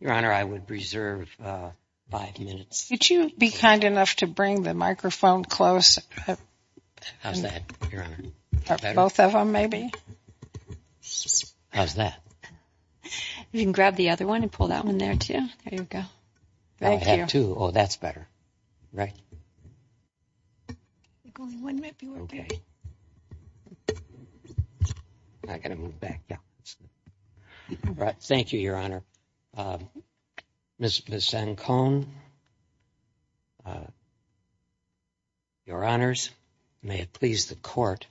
Your Honor, I would reserve five minutes. Could you be kind enough to bring the microphone closer? How's that, Your Honor? Better? Both of them, maybe? How's that? You can grab the other one and pull that one there, too. There you go. I have two. Oh, that's better. Right? I think only one might be okay. Okay. I've got to move back. Thank you, Your Honor. Ms. Zancone, Your Honors, may it please the Court,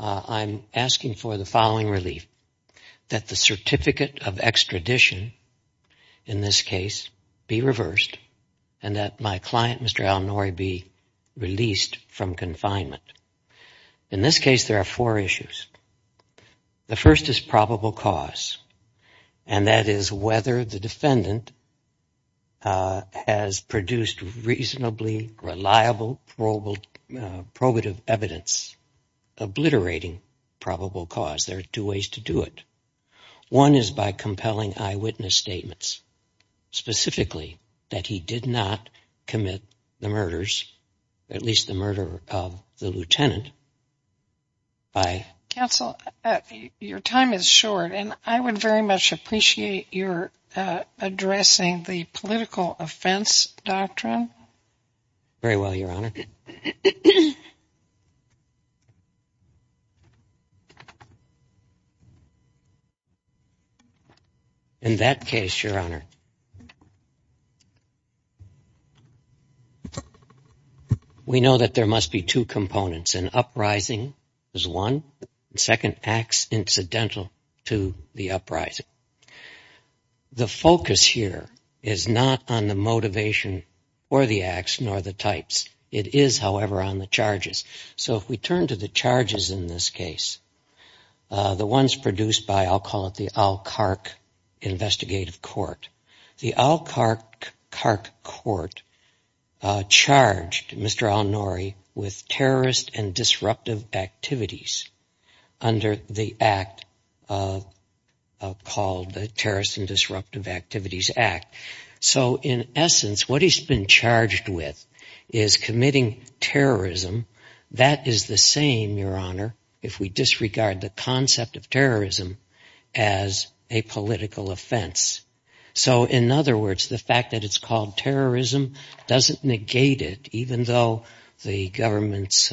I'm asking for the following relief. That the certificate of extradition, in this case, be reversed, and that my client, Mr. Al-Nouri, be released from confinement. In this case, there are four issues. The first is probable cause. And that is whether the defendant has produced reasonably reliable probative evidence obliterating probable cause. There are two ways to do it. One is by compelling eyewitness statements. Specifically, that he did not commit the murders, at least the murder of the lieutenant. Counsel, your time is short. And I would very much appreciate your addressing the political offense doctrine. Very well, Your Honor. In that case, Your Honor, we know that there must be two components. An uprising is one. Second, acts incidental to the uprising. The focus here is not on the motivation for the acts, nor the types. It is, however, on the charges. So if we turn to the charges in this case, the ones produced by, I'll call it the Al-Khark investigative court. The Al-Khark court charged Mr. Al-Nouri with terrorist and disruptive activities under the act called the Terrorist and Disruptive Activities Act. So in essence, what he's been charged with is committing terrorism. That is the same, Your Honor, if we disregard the concept of terrorism as a political offense. So in other words, the fact that it's called terrorism doesn't negate it, even though the government's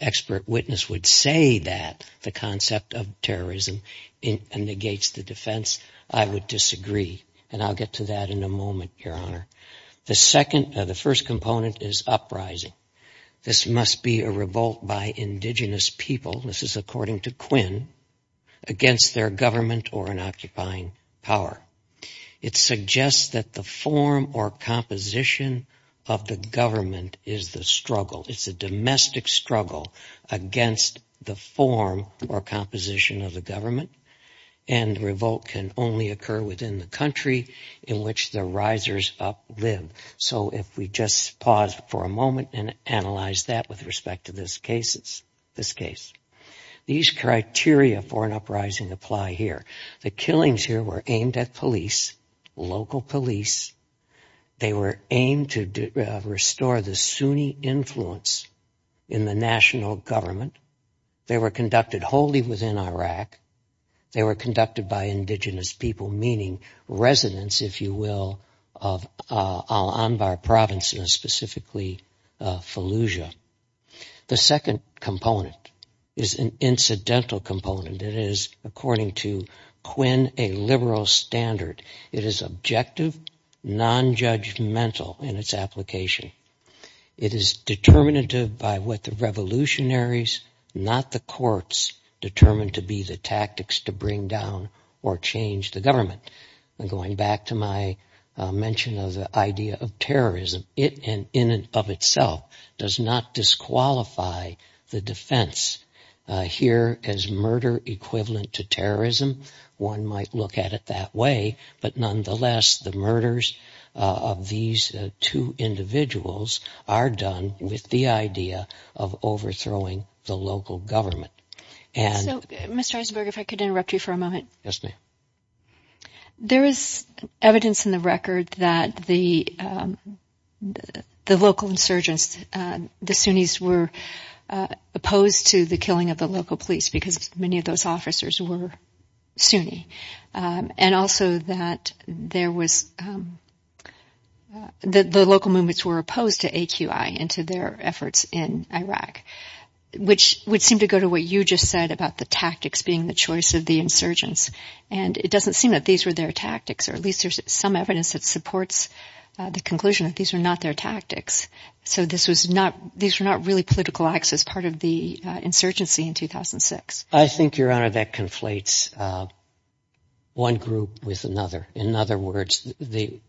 expert witness would say that the concept of terrorism negates the defense. I would disagree, and I'll get to that in a moment, Your Honor. The first component is uprising. This must be a revolt by indigenous people. This is according to Quinn, against their government or an occupying power. It suggests that the form or composition of the government is the struggle. It's a domestic struggle against the form or composition of the government, and revolt can only occur within the country in which the risers up live. So if we just pause for a moment and analyze that with respect to this case. These criteria for an uprising apply here. The killings here were aimed at police, local police. They were aimed to restore the Sunni influence in the national government. They were conducted wholly within Iraq. They were conducted by indigenous people, meaning residents, if you will, of Al Anbar province, and specifically Fallujah. The second component is an incidental component. It is, according to Quinn, a liberal standard. It is objective, nonjudgmental in its application. It is determinative by what the revolutionaries, not the courts, determined to be the tactics to bring down or change the government. Going back to my mention of the idea of terrorism, it in and of itself does not disqualify the defense. Here is murder equivalent to terrorism. One might look at it that way, but nonetheless the murders of these two individuals are done with the idea of overthrowing the local government. So, Mr. Eisenberg, if I could interrupt you for a moment. Yes, ma'am. There is evidence in the record that the local insurgents, the Sunnis, were opposed to the killing of the local police because many of those officers were Sunni. And also that the local movements were opposed to AQI and to their efforts in Iraq, which would seem to go to what you just said about the tactics being the choice of the insurgents. And it doesn't seem that these were their tactics, or at least there is some evidence that supports the conclusion that these were not their tactics. So these were not really political acts as part of the insurgency in 2006. I think, Your Honor, that conflates one group with another. In other words,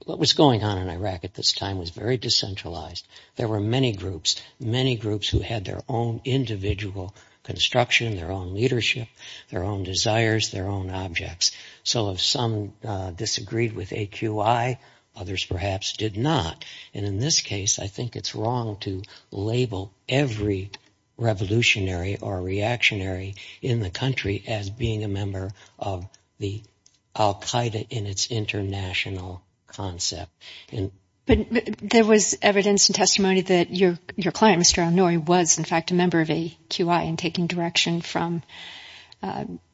what was going on in Iraq at this time was very decentralized. There were many groups, many groups who had their own individual construction, their own leadership, their own desires, their own objects. So if some disagreed with AQI, others perhaps did not. And in this case, I think it's wrong to label every revolutionary or reactionary in the country as being a member of the al-Qaeda in its international concept. But there was evidence and testimony that your client, Mr. al-Nouri, was in fact a member of AQI and taking direction from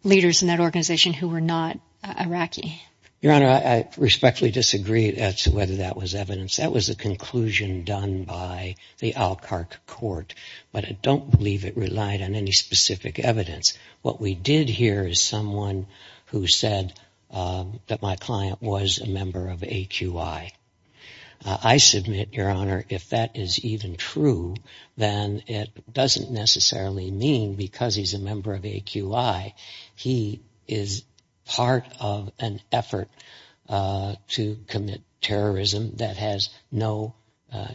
leaders in that organization who were not Iraqi. Your Honor, I respectfully disagree as to whether that was evidence. That was a conclusion done by the Al-Qaeda court. But I don't believe it relied on any specific evidence. What we did hear is someone who said that my client was a member of AQI. I submit, Your Honor, if that is even true, then it doesn't necessarily mean because he's a member of AQI he is part of an effort to commit terrorism that has no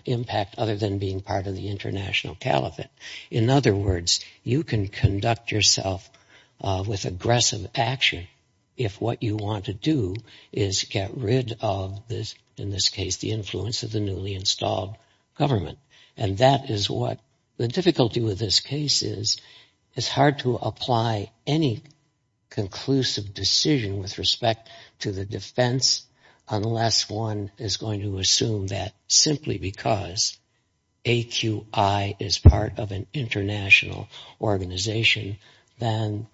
impact other than being part of the international caliphate. In other words, you can conduct yourself with aggressive action if what you want to do is get rid of, in this case, the influence of the newly installed government. And that is what the difficulty with this case is. It's hard to apply any conclusive decision with respect to the defense unless one is going to assume that simply because AQI is part of an international organization then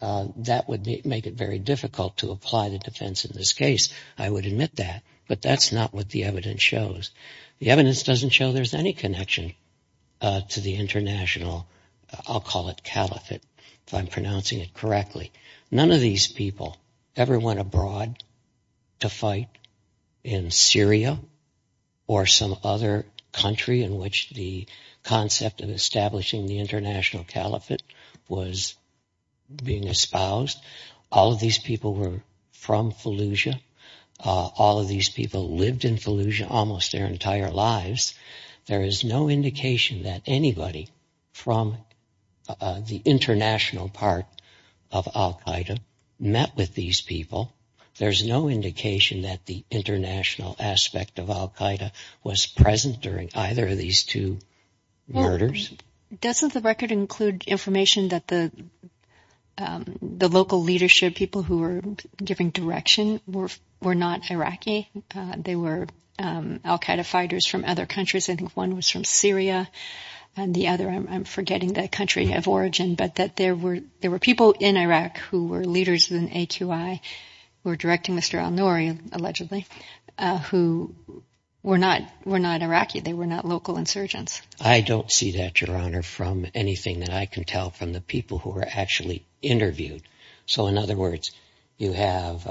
that would make it very difficult to apply the defense in this case. I would admit that. But that's not what the evidence shows. The evidence doesn't show there's any connection to the international, I'll call it caliphate, if I'm pronouncing it correctly. None of these people ever went abroad to fight in Syria or some other country in which the concept of establishing the international caliphate was being espoused. All of these people were from Fallujah. All of these people lived in Fallujah almost their entire lives. There is no indication that anybody from the international part of Al-Qaeda met with these people. There's no indication that the international aspect of Al-Qaeda was present during either of these two murders. Doesn't the record include information that the local leadership, people who were giving direction, were not Iraqi? They were Al-Qaeda fighters from other countries. I think one was from Syria and the other, I'm forgetting the country of origin, but that there were people in Iraq who were leaders in AQI, who were directing Mr. al-Nuri, allegedly, who were not Iraqi. They were not local insurgents. I don't see that, Your Honor, from anything that I can tell from the people who were actually interviewed. So, in other words, you have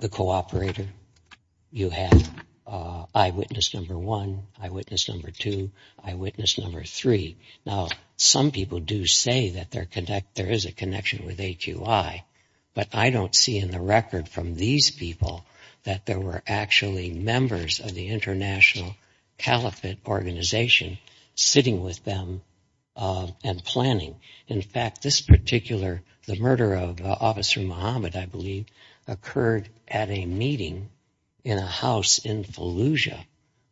the cooperator. You have eyewitness number one, eyewitness number two, eyewitness number three. Now, some people do say that there is a connection with AQI, but I don't see in the record from these people that there were actually members of the international caliphate organization sitting with them and planning. In fact, this particular, the murder of Officer Muhammad, I believe, occurred at a meeting in a house in Fallujah,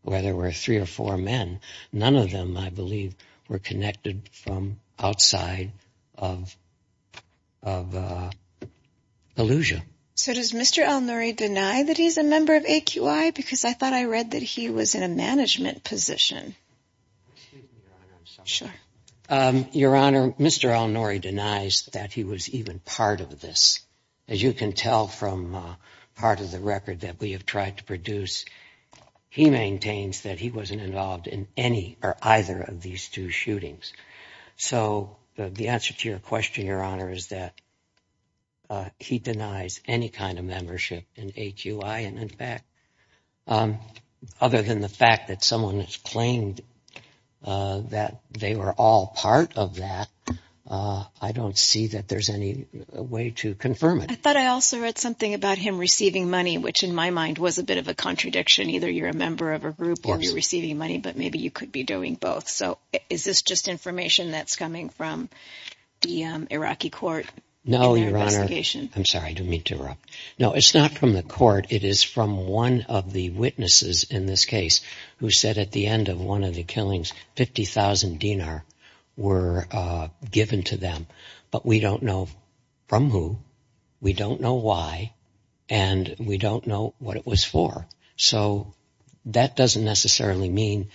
where there were three or four men. None of them, I believe, were connected from outside of Fallujah. So does Mr. al-Nuri deny that he's a member of AQI? Because I thought I read that he was in a management position. Your Honor, Mr. al-Nuri denies that he was even part of this. As you can tell from part of the record that we have tried to produce, he maintains that he wasn't involved in any or either of these two shootings. So the answer to your question, Your Honor, is that he denies any kind of membership in AQI. In fact, other than the fact that someone has claimed that they were all part of that, I don't see that there's any way to confirm it. I thought I also read something about him receiving money, which in my mind was a bit of a contradiction. Either you're a member of a group or you're receiving money, but maybe you could be doing both. So is this just information that's coming from the Iraqi court? No, Your Honor. I'm sorry, I didn't mean to interrupt. No, it's not from the court. It is from one of the witnesses in this case who said at the end of one of the killings, 50,000 dinar were given to them. But we don't know from who, we don't know why, and we don't know what it was for. So that doesn't necessarily mean,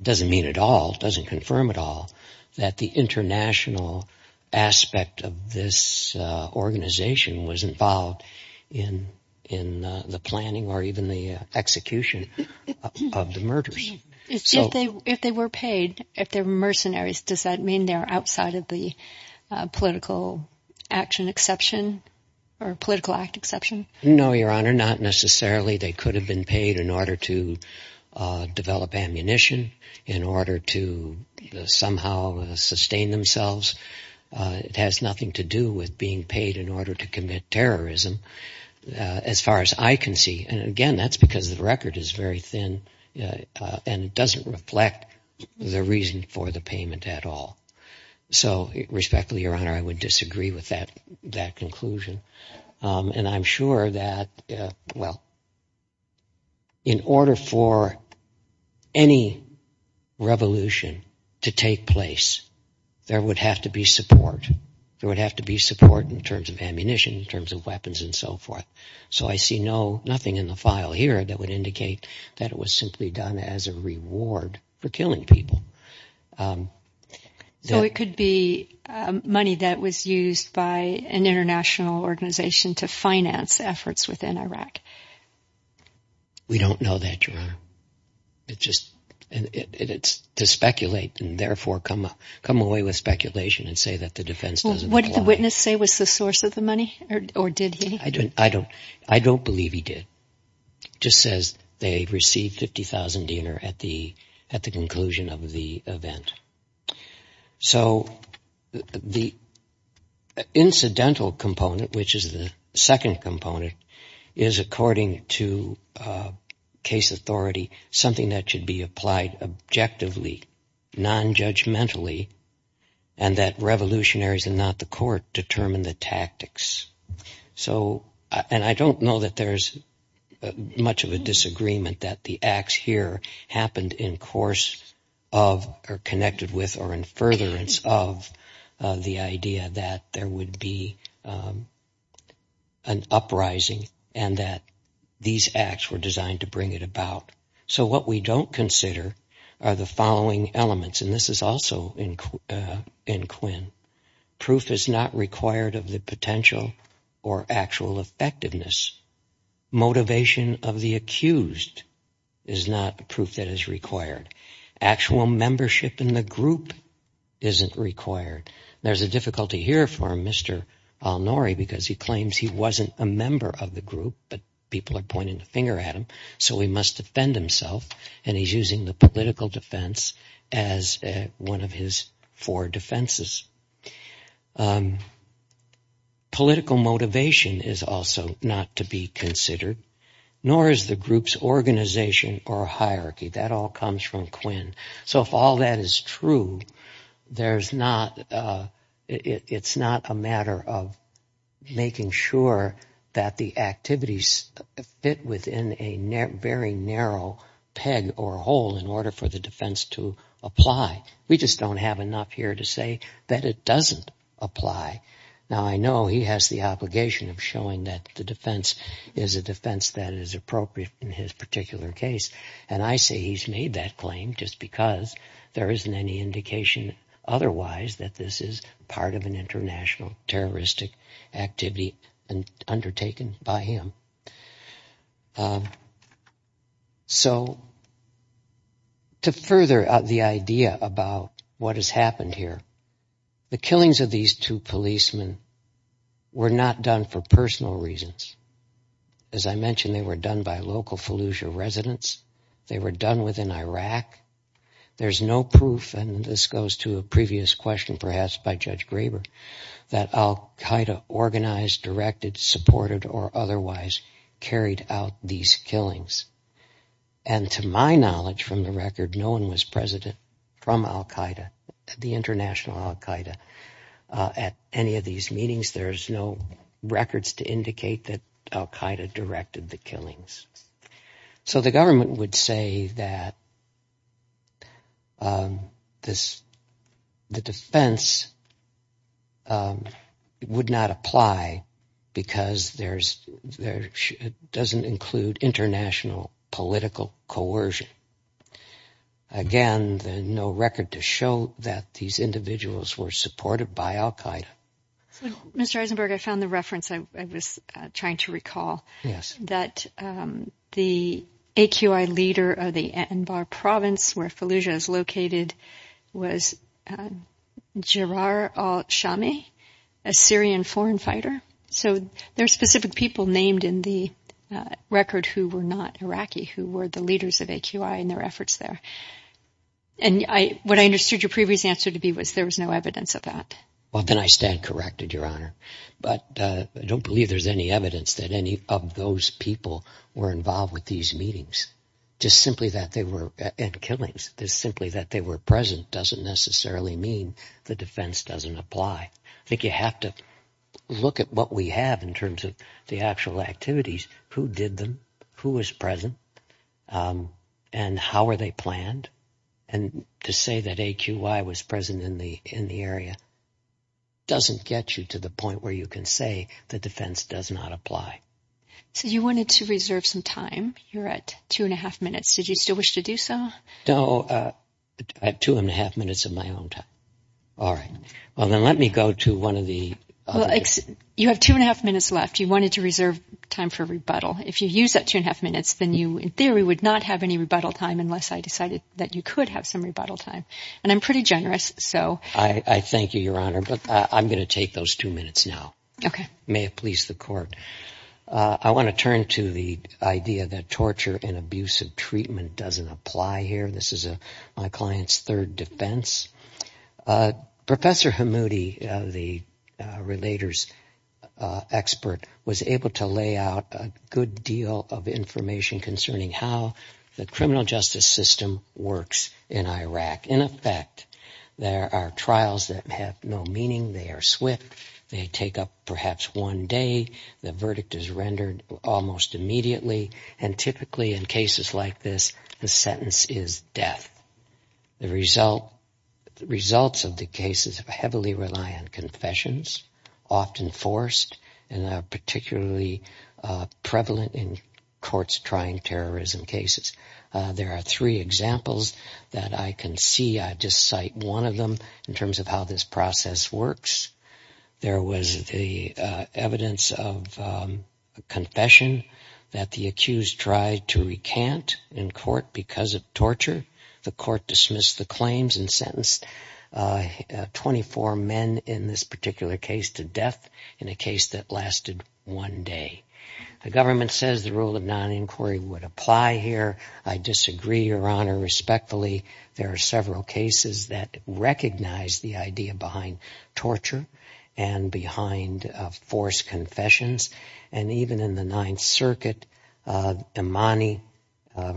doesn't mean at all, doesn't confirm at all, that the international aspect of this organization was involved in the planning or even the execution of the murders. If they were paid, if they're mercenaries, does that mean they're outside of the political action exception or political act exception? No, Your Honor, not necessarily. They could have been paid in order to develop ammunition, in order to somehow sustain themselves. It has nothing to do with being paid in order to commit terrorism. As far as I can see, and again, that's because the record is very thin and it doesn't reflect the reason for the payment at all. So respectfully, Your Honor, I would disagree with that conclusion. And I'm sure that, well, in order for any revolution to take place, there would have to be support. There would have to be support in terms of ammunition, in terms of weapons and so forth. So I see nothing in the file here that would indicate that it was simply done as a reward for killing people. So it could be money that was used by an international organization to finance efforts within Iraq? We don't know that, Your Honor. It's to speculate and therefore come away with speculation and say that the defense doesn't apply. What did the witness say was the source of the money, or did he? I don't believe he did. It just says they received 50,000 dinar at the conclusion of the event. So the incidental component, which is the second component, is according to case authority, something that should be applied objectively, nonjudgmentally, and that revolutionaries and not the court determine the tactics. And I don't know that there's much of a disagreement that the acts here happened in course of or connected with or in furtherance of the idea that there would be an uprising and that these acts were designed to bring it about. So what we don't consider are the following elements, and this is also in Quinn. Proof is not required of the potential or actual effectiveness. Motivation of the accused is not proof that is required. Actual membership in the group isn't required. There's a difficulty here for Mr. Alnori because he claims he wasn't a member of the group, but people are pointing the finger at him, so he must defend himself, and he's using the political defense as one of his four defenses. Political motivation is also not to be considered, nor is the group's organization or hierarchy. That all comes from Quinn. So if all that is true, it's not a matter of making sure that the activities fit within a very narrow peg or hole in order for the defense to apply. We just don't have enough here to say that it doesn't apply. Now I know he has the obligation of showing that the defense is a defense that is appropriate in his particular case, and I say he's made that claim just because there isn't any indication otherwise that this is part of an international terroristic activity undertaken by him. So to further the idea about what has happened here, the killings of these two policemen were not done for personal reasons. As I mentioned, they were done by local Fallujah residents. They were done within Iraq. There's no proof, and this goes to a previous question perhaps by Judge Graber, that al-Qaeda organized, directed, supported, or otherwise carried out these killings. And to my knowledge from the record, no one was president from al-Qaeda, the international al-Qaeda, at any of these meetings. There's no records to indicate that al-Qaeda directed the killings. So the government would say that the defense would not apply because it doesn't include international political coercion. Again, there's no record to show that these individuals were supported by al-Qaeda. Mr. Eisenberg, I found the reference I was trying to recall, that the AQI leader of the Anbar province where Fallujah is located was Jarar al-Shami, a Syrian foreign fighter. So there are specific people named in the record who were not Iraqi, who were the leaders of AQI in their efforts there. And what I understood your previous answer to be was there was no evidence of that. Well, then I stand corrected, Your Honor. But I don't believe there's any evidence that any of those people were involved with these meetings. Just simply that they were in killings, just simply that they were present, doesn't necessarily mean the defense doesn't apply. I think you have to look at what we have in terms of the actual activities, who did them, who was present, and how were they planned. And to say that AQI was present in the area doesn't get you to the point where you can say the defense does not apply. So you wanted to reserve some time. You're at two and a half minutes. Did you still wish to do so? No. I have two and a half minutes of my own time. All right. Well, then let me go to one of the other. You have two and a half minutes left. You wanted to reserve time for rebuttal. If you use that two and a half minutes, then you in theory would not have any rebuttal time unless I decided that you could have some rebuttal time. And I'm pretty generous, so. I thank you, Your Honor, but I'm going to take those two minutes now. Okay. May it please the Court. I want to turn to the idea that torture and abusive treatment doesn't apply here. This is my client's third defense. Professor Hamoudi, the relator's expert, was able to lay out a good deal of information concerning how the criminal justice system works in Iraq. In effect, there are trials that have no meaning. They are swift. They take up perhaps one day. The verdict is rendered almost immediately. And typically in cases like this, the sentence is death. The results of the cases heavily rely on confessions, often forced and are particularly prevalent in courts trying terrorism cases. There are three examples that I can see. I'll just cite one of them in terms of how this process works. There was the evidence of confession that the accused tried to recant in court because of torture. The court dismissed the claims and sentenced 24 men in this particular case to death in a case that lasted one day. The government says the rule of non-inquiry would apply here. I disagree, Your Honor, respectfully. There are several cases that recognize the idea behind torture and behind forced confessions. And even in the Ninth Circuit, Imani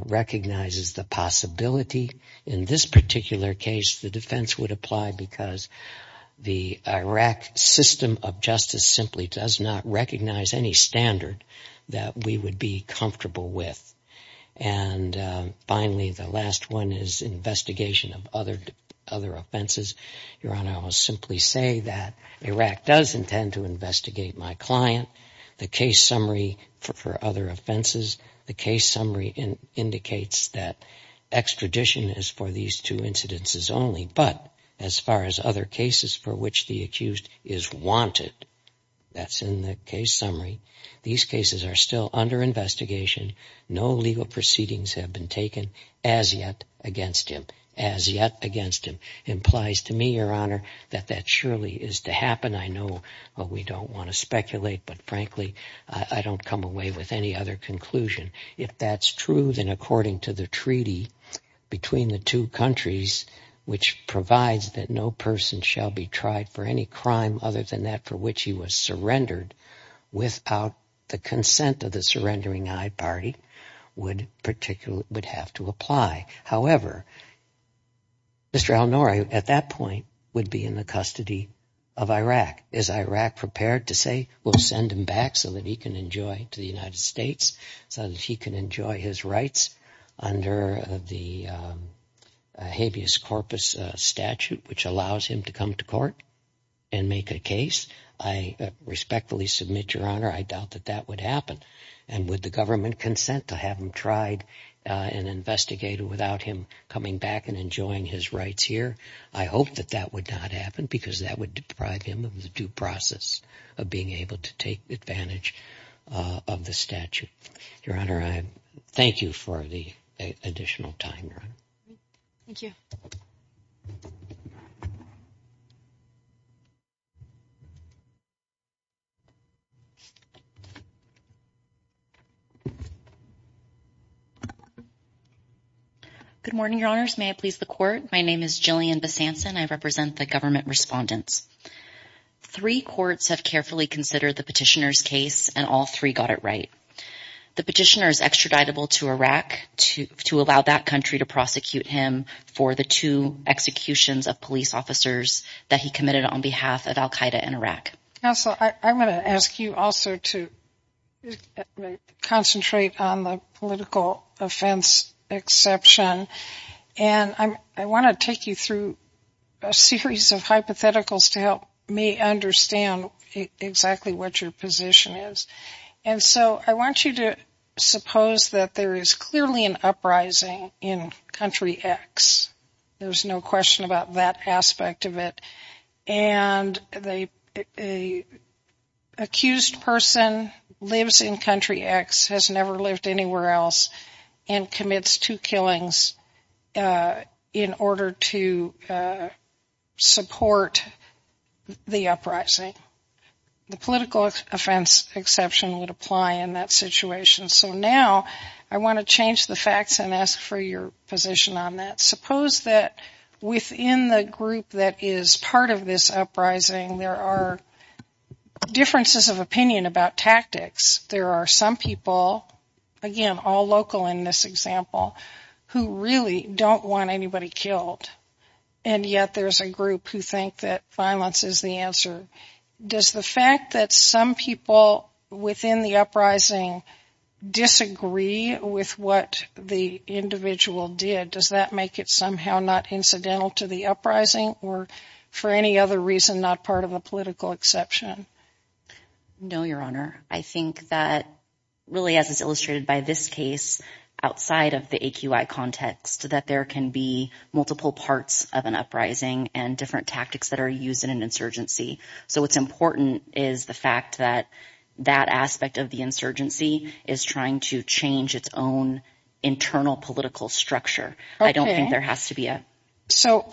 recognizes the possibility. In this particular case, the defense would apply because the Iraq system of justice simply does not recognize any standard that we would be comfortable with. And finally, the last one is investigation of other offenses. Your Honor, I will simply say that Iraq does intend to investigate my client. The case summary for other offenses, the case summary indicates that extradition is for these two incidences only. But as far as other cases for which the accused is wanted, that's in the case summary, these cases are still under investigation. No legal proceedings have been taken as yet against him, as yet against him. It implies to me, Your Honor, that that surely is to happen. I know we don't want to speculate, but frankly, I don't come away with any other conclusion. If that's true, then according to the treaty between the two countries, which provides that no person shall be tried for any crime other than that for which he was surrendered without the consent of the surrendering-eyed party, would have to apply. However, Mr. al-Nuri, at that point, would be in the custody of Iraq. Is Iraq prepared to say, we'll send him back so that he can enjoy to the United States, so that he can enjoy his rights under the habeas corpus statute, which allows him to come to court and make a case? I respectfully submit, Your Honor, I doubt that that would happen. And would the government consent to have him tried and investigated without him coming back and enjoying his rights here? I hope that that would not happen, because that would deprive him of the due process of being able to take advantage of the statute. Your Honor, I thank you for the additional time, Your Honor. Thank you. Good morning, Your Honors. May I please the court? My name is Jillian Besanson. I represent the government respondents. Three courts have carefully considered the petitioner's case, and all three got it right. The petitioner is extraditable to Iraq, to allow that country to prosecute him for the two executions of police officers that he committed on behalf of al-Qaeda in Iraq. Counsel, I'm going to ask you also to concentrate on the political offense exception. And I want to take you through a series of hypotheticals to help me understand exactly what your position is. And so I want you to suppose that there is clearly an uprising in Country X. There's no question about that aspect of it. And the accused person lives in Country X, has never lived anywhere else, and commits two killings in order to support the uprising. The political offense exception would apply in that situation. So now I want to change the facts and ask for your position on that. Suppose that within the group that is part of this uprising, there are differences of opinion about tactics. There are some people, again, all local in this example, who really don't want anybody killed. And yet there's a group who think that violence is the answer. Does the fact that some people within the uprising disagree with what the individual did, does that make it somehow not incidental to the uprising or for any other reason not part of a political exception? No, Your Honor. I think that really as is illustrated by this case, outside of the AQI context, that there can be multiple parts of an uprising and different tactics that are used in an insurgency. So what's important is the fact that that aspect of the insurgency is trying to change its own internal political structure. I don't think there has to be a… So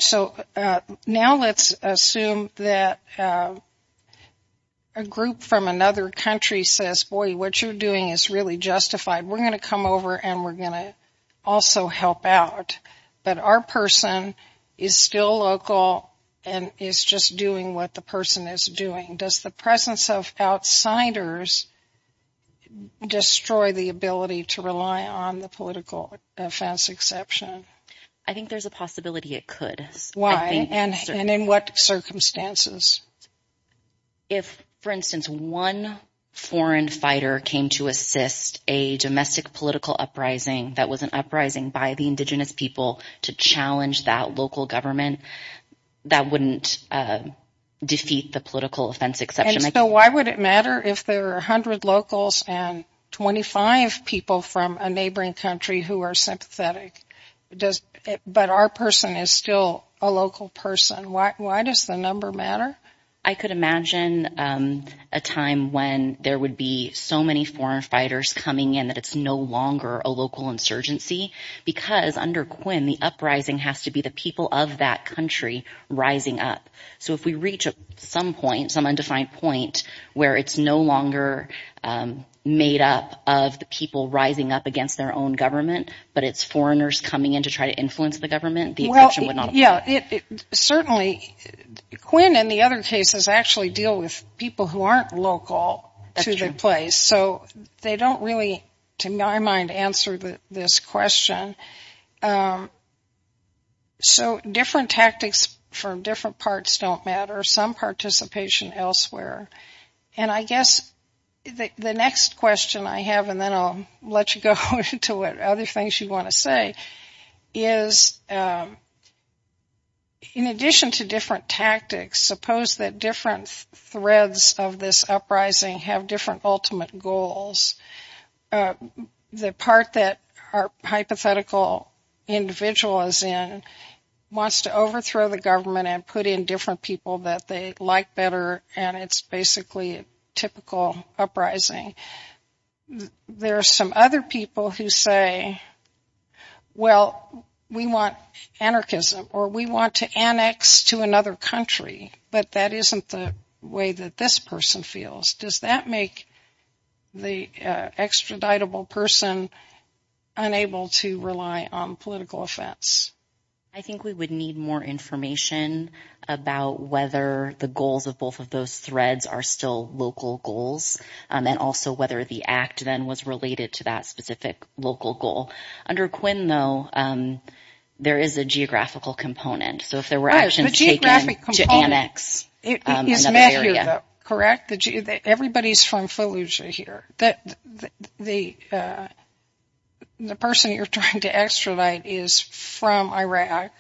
now let's assume that a group from another country says, boy, what you're doing is really justified. We're going to come over and we're going to also help out. But our person is still local and is just doing what the person is doing. Does the presence of outsiders destroy the ability to rely on the political offense exception? I think there's a possibility it could. Why? And in what circumstances? If, for instance, one foreign fighter came to assist a domestic political uprising that was an uprising by the indigenous people to challenge that local government, that wouldn't defeat the political offense exception. And so why would it matter if there are 100 locals and 25 people from a neighboring country who are sympathetic, but our person is still a local person? Why does the number matter? I could imagine a time when there would be so many foreign fighters coming in that it's no longer a local insurgency, because under Quinn the uprising has to be the people of that country rising up. So if we reach some point, some undefined point, where it's no longer made up of the people rising up against their own government, but it's foreigners coming in to try to influence the government, the exception would not apply. Certainly Quinn and the other cases actually deal with people who aren't local to the place. So they don't really, to my mind, answer this question. So different tactics for different parts don't matter. Some participation elsewhere. And I guess the next question I have, and then I'll let you go into what other things you want to say, is in addition to different tactics, suppose that different threads of this uprising have different ultimate goals. The part that our hypothetical individual is in wants to overthrow the government and put in different people that they like better, and it's basically a typical uprising. There are some other people who say, well, we want anarchism, or we want to annex to another country, but that isn't the way that this person feels. Does that make the extraditable person unable to rely on political offense? I think we would need more information about whether the goals of both of those threads are still local goals, and also whether the act then was related to that specific local goal. Under Quinn, though, there is a geographical component. So if there were actions taken to annex another area. Everybody is from Fallujah here. The person you're trying to extradite is from Iraq,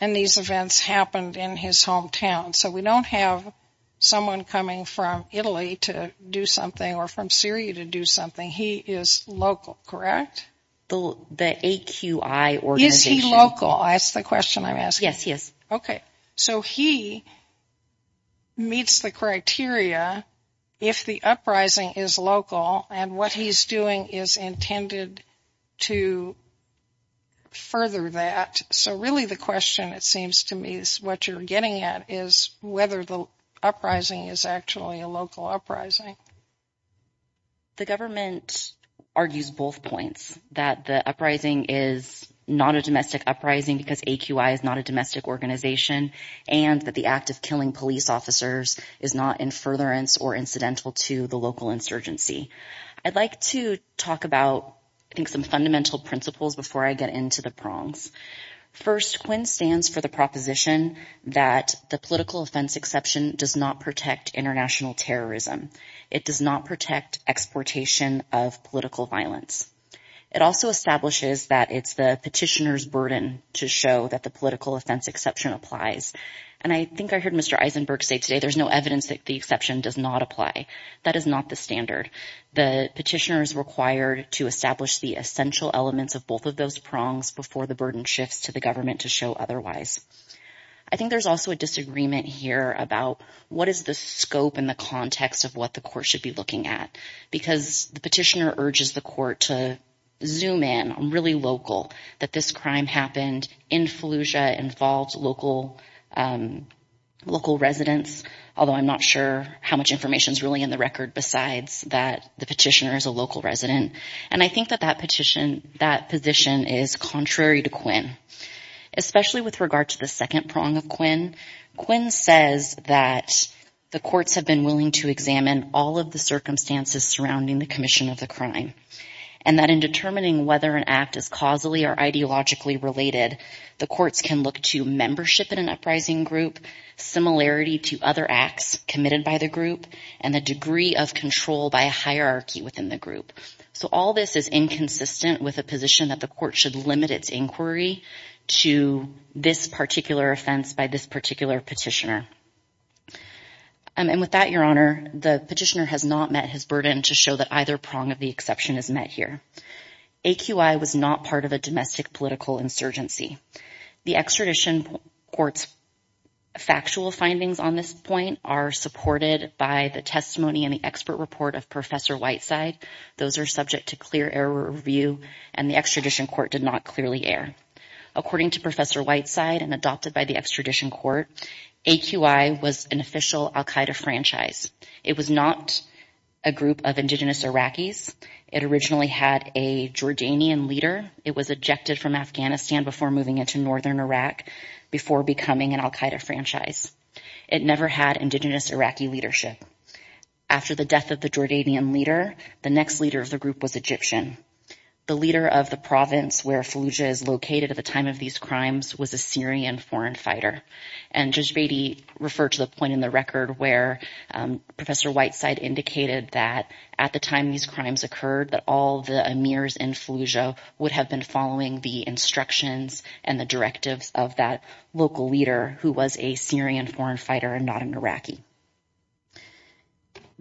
and these events happened in his hometown. So we don't have someone coming from Italy to do something or from Syria to do something. He is local, correct? The AQI organization. Is he local? That's the question I'm asking. Yes, he is. OK, so he meets the criteria if the uprising is local and what he's doing is intended to further that. So really the question, it seems to me, is what you're getting at is whether the uprising is actually a local uprising. The government argues both points that the uprising is not a domestic uprising because AQI is not a domestic organization and that the act of killing police officers is not in furtherance or incidental to the local insurgency. I'd like to talk about some fundamental principles before I get into the prongs. First, Quinn stands for the proposition that the political offense exception does not protect international terrorism. It does not protect exportation of political violence. It also establishes that it's the petitioner's burden to show that the political offense exception applies. And I think I heard Mr. Eisenberg say today there's no evidence that the exception does not apply. That is not the standard. The petitioner is required to establish the essential elements of both of those prongs before the burden shifts to the government to show otherwise. I think there's also a disagreement here about what is the scope and the context of what the court should be looking at. Because the petitioner urges the court to zoom in on really local, that this crime happened in Fallujah, involved local residents. Although I'm not sure how much information is really in the record besides that the petitioner is a local resident. And I think that that position is contrary to Quinn. Especially with regard to the second prong of Quinn. Quinn says that the courts have been willing to examine all of the circumstances surrounding the commission of the crime. And that in determining whether an act is causally or ideologically related, the courts can look to membership in an uprising group, similarity to other acts committed by the group, and the degree of control by a hierarchy within the group. So all this is inconsistent with a position that the court should limit its inquiry to this particular offense by this particular petitioner. And with that, Your Honor, the petitioner has not met his burden to show that either prong of the exception is met here. AQI was not part of a domestic political insurgency. The extradition court's factual findings on this point are supported by the testimony and the expert report of Professor Whiteside. Those are subject to clear error review and the extradition court did not clearly err. According to Professor Whiteside and adopted by the extradition court, AQI was an official Al Qaeda franchise. It was not a group of indigenous Iraqis. It originally had a Jordanian leader. It was ejected from Afghanistan before moving into northern Iraq before becoming an Al Qaeda franchise. It never had indigenous Iraqi leadership. After the death of the Jordanian leader, the next leader of the group was Egyptian. The leader of the province where Fallujah is located at the time of these crimes was a Syrian foreign fighter. And Judge Beatty referred to the point in the record where Professor Whiteside indicated that at the time these crimes occurred, that all the emirs in Fallujah would have been following the instructions and the directives of that local leader who was a Syrian foreign fighter and not an Iraqi.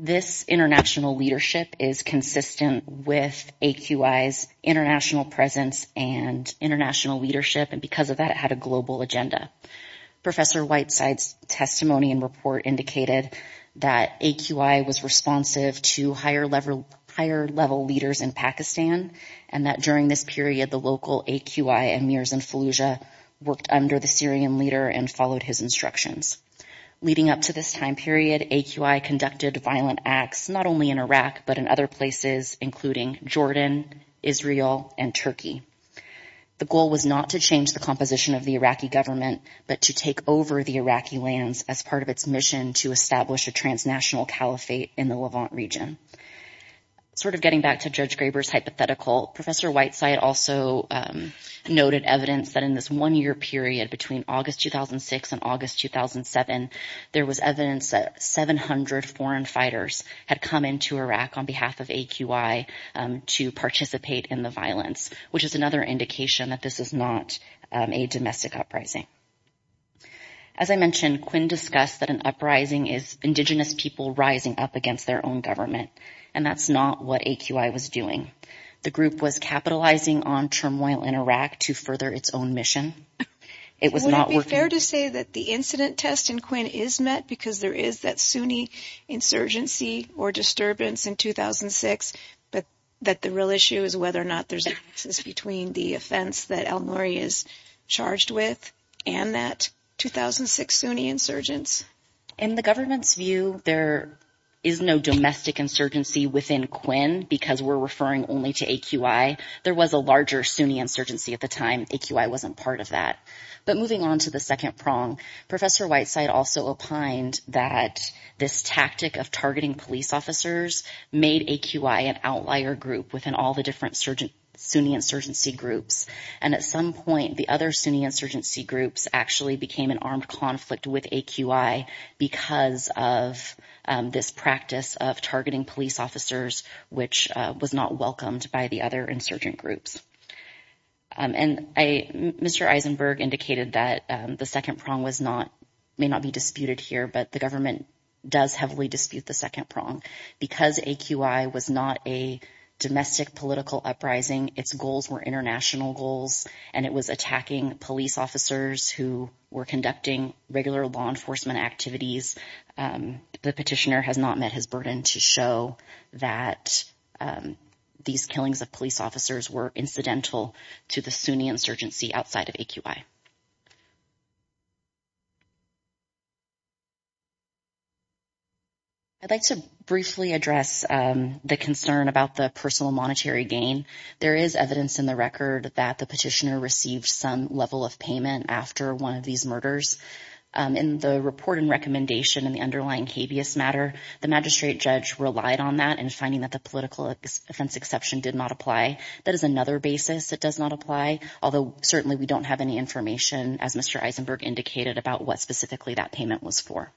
This international leadership is consistent with AQI's international presence and international leadership. And because of that, it had a global agenda. Professor Whiteside's testimony and report indicated that AQI was responsive to higher level leaders in Pakistan and that during this period, the local AQI emirs in Fallujah worked under the Syrian leader and followed his instructions. Leading up to this time period, AQI conducted violent acts not only in Iraq, but in other places, including Jordan, Israel, and Turkey. The goal was not to change the composition of the Iraqi government, but to take over the Iraqi lands as part of its mission to establish a transnational caliphate in the Levant region. Sort of getting back to Judge Graber's hypothetical, Professor Whiteside also noted evidence that in this one year period between August 2006 and August 2007, there was evidence that 700 foreign fighters had come into Iraq on behalf of AQI to participate in the violence, which is another indication that this is not a domestic uprising. As I mentioned, Quinn discussed that an uprising is indigenous people rising up against their own government. And that's not what AQI was doing. The group was capitalizing on turmoil in Iraq to further its own mission. It was not working. Would it be fair to say that the incident test in Quinn is met because there is that Sunni insurgency or disturbance in 2006, but that the real issue is whether or not there's a difference between the offense that El Mory is charged with and that 2006 Sunni insurgence? In the government's view, there is no domestic insurgency within Quinn because we're referring only to AQI. There was a larger Sunni insurgency at the time. AQI wasn't part of that. But moving on to the second prong, Professor Whiteside also opined that this tactic of targeting police officers made AQI an outlier group within all the different Sunni insurgency groups. And at some point, the other Sunni insurgency groups actually became an armed conflict with AQI because of this practice of targeting police officers, which was not welcomed by the other insurgent groups. And Mr. Eisenberg indicated that the second prong was not may not be disputed here, but the government does heavily dispute the second prong because AQI was not a domestic political uprising. Its goals were international goals, and it was attacking police officers who were conducting regular law enforcement activities. The petitioner has not met his burden to show that these killings of police officers were incidental to the Sunni insurgency outside of AQI. I'd like to briefly address the concern about the personal monetary gain. There is evidence in the record that the petitioner received some level of payment after one of these murders. In the report and recommendation in the underlying habeas matter, the magistrate judge relied on that in finding that the political offense exception did not apply. That is another basis that does not apply, although certainly we don't have any information, as Mr. Eisenberg indicated, about what specifically that payment was for.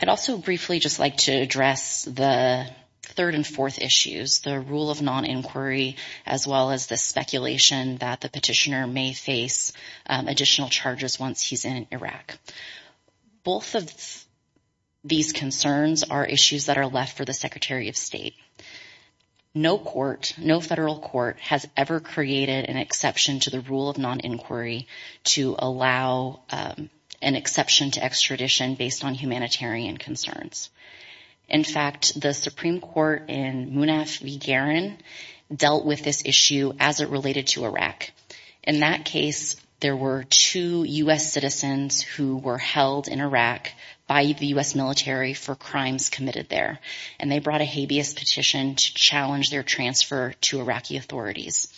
I'd also briefly just like to address the third and fourth issues, the rule of non-inquiry, as well as the speculation that the petitioner may face additional charges once he's in Iraq. Both of these concerns are issues that are left for the Secretary of State. No court, no federal court, has ever created an exception to the rule of non-inquiry to allow an exception to extradition based on humanitarian concerns. In fact, the Supreme Court in Munaf V. Garan dealt with this issue as it related to Iraq. In that case, there were two U.S. citizens who were held in Iraq by the U.S. military for crimes committed there, and they brought a habeas petition to challenge their transfer to Iraqi authorities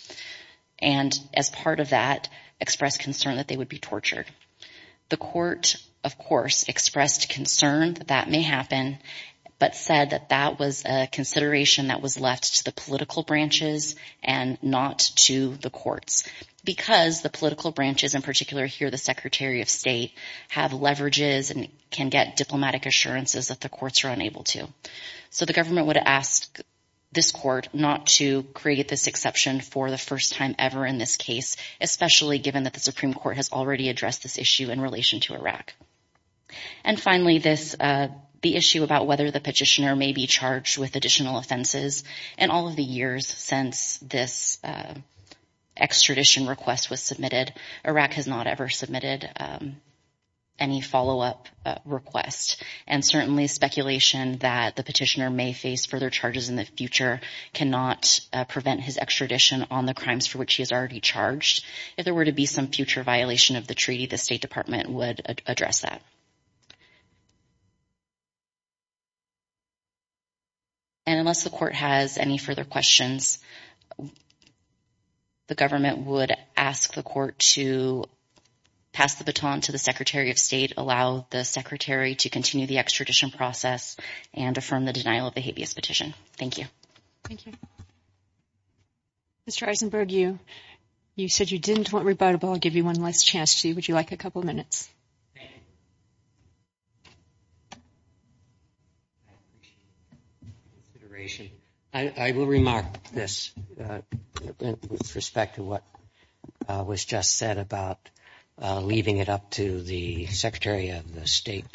and, as part of that, expressed concern that they would be tortured. The court, of course, expressed concern that that may happen, but said that that was a consideration that was left to the political branches and not to the courts, because the political branches, in particular here the Secretary of State, have leverages and can get diplomatic assurances that the courts are unable to. So the government would ask this court not to create this exception for the first time ever in this case, especially given that the Supreme Court has already addressed this issue in relation to Iraq. And finally, the issue about whether the petitioner may be charged with additional offenses. In all of the years since this extradition request was submitted, Iraq has not ever submitted any follow-up request, and certainly speculation that the petitioner may face further charges in the future cannot prevent his extradition on the crimes for which he is already charged. If there were to be some future violation of the treaty, the State Department would address that. And unless the court has any further questions, the government would ask the court to pass the baton to the Secretary of State, allow the Secretary to continue the extradition process, and affirm the denial of the habeas petition. Thank you. Thank you. Mr. Eisenberg, you said you didn't want rebuttable. I'll give you one last chance. Would you like a couple of minutes? I will remark this with respect to what was just said about leaving it up to the Secretary of the State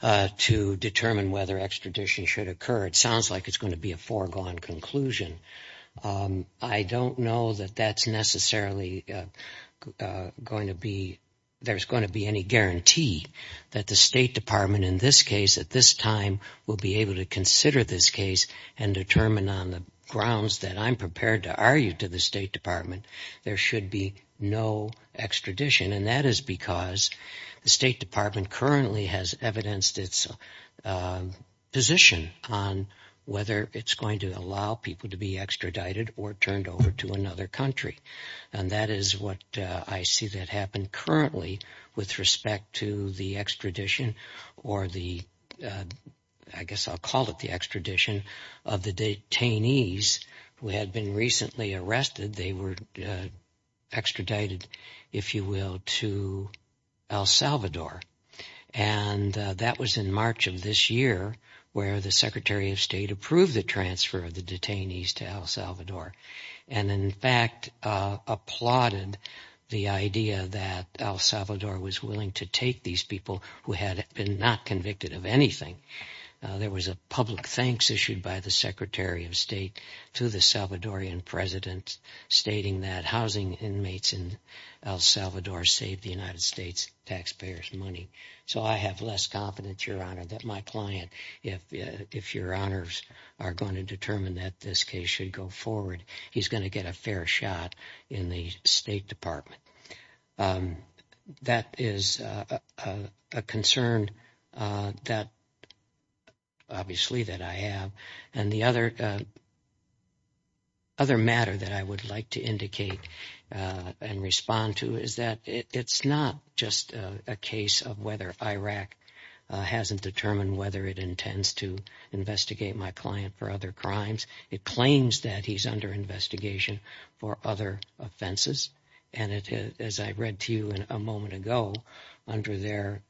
to determine whether extradition should occur. It sounds like it's going to be a foregone conclusion. I don't know that there's going to be any guarantee that the State Department in this case at this time will be able to consider this case and determine on the grounds that I'm prepared to argue to the State Department there should be no extradition. And that is because the State Department currently has evidenced its position on whether it's going to allow people to be extradited or turned over to another country. And that is what I see that happened currently with respect to the extradition, or I guess I'll call it the extradition, of the detainees who had been recently arrested. They were extradited, if you will, to El Salvador. And that was in March of this year where the Secretary of State approved the transfer of the detainees to El Salvador and in fact applauded the idea that El Salvador was willing to take these people who had been not convicted of anything. There was a public thanks issued by the Secretary of State to the Salvadorian President stating that housing inmates in El Salvador saved the United States taxpayers money. So I have less confidence, Your Honor, that my client, if Your Honors are going to determine that this case should go forward, he's going to get a fair shot in the State Department. That is a concern that, obviously, that I have. And the other matter that I would like to indicate and respond to is that it's not just a case of whether Iraq hasn't determined whether it intends to investigate my client for other crimes. It claims that he's under investigation for other offenses. And as I read to you a moment ago, under their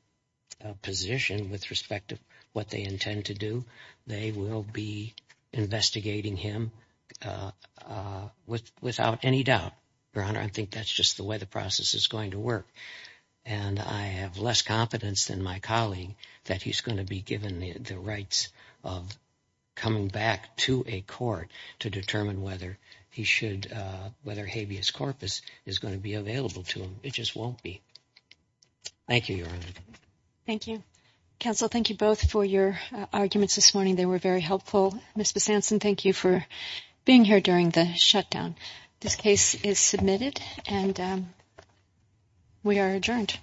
position with respect to what they intend to do, they will be investigating him without any doubt. Your Honor, I think that's just the way the process is going to work. And I have less confidence than my colleague that he's going to be given the rights of coming back to a court to determine whether habeas corpus is going to be available to him. It just won't be. Thank you, Your Honor. Thank you. Counsel, thank you both for your arguments this morning. They were very helpful. Ms. Besantzen, thank you for being here during the shutdown. This case is submitted, and we are adjourned.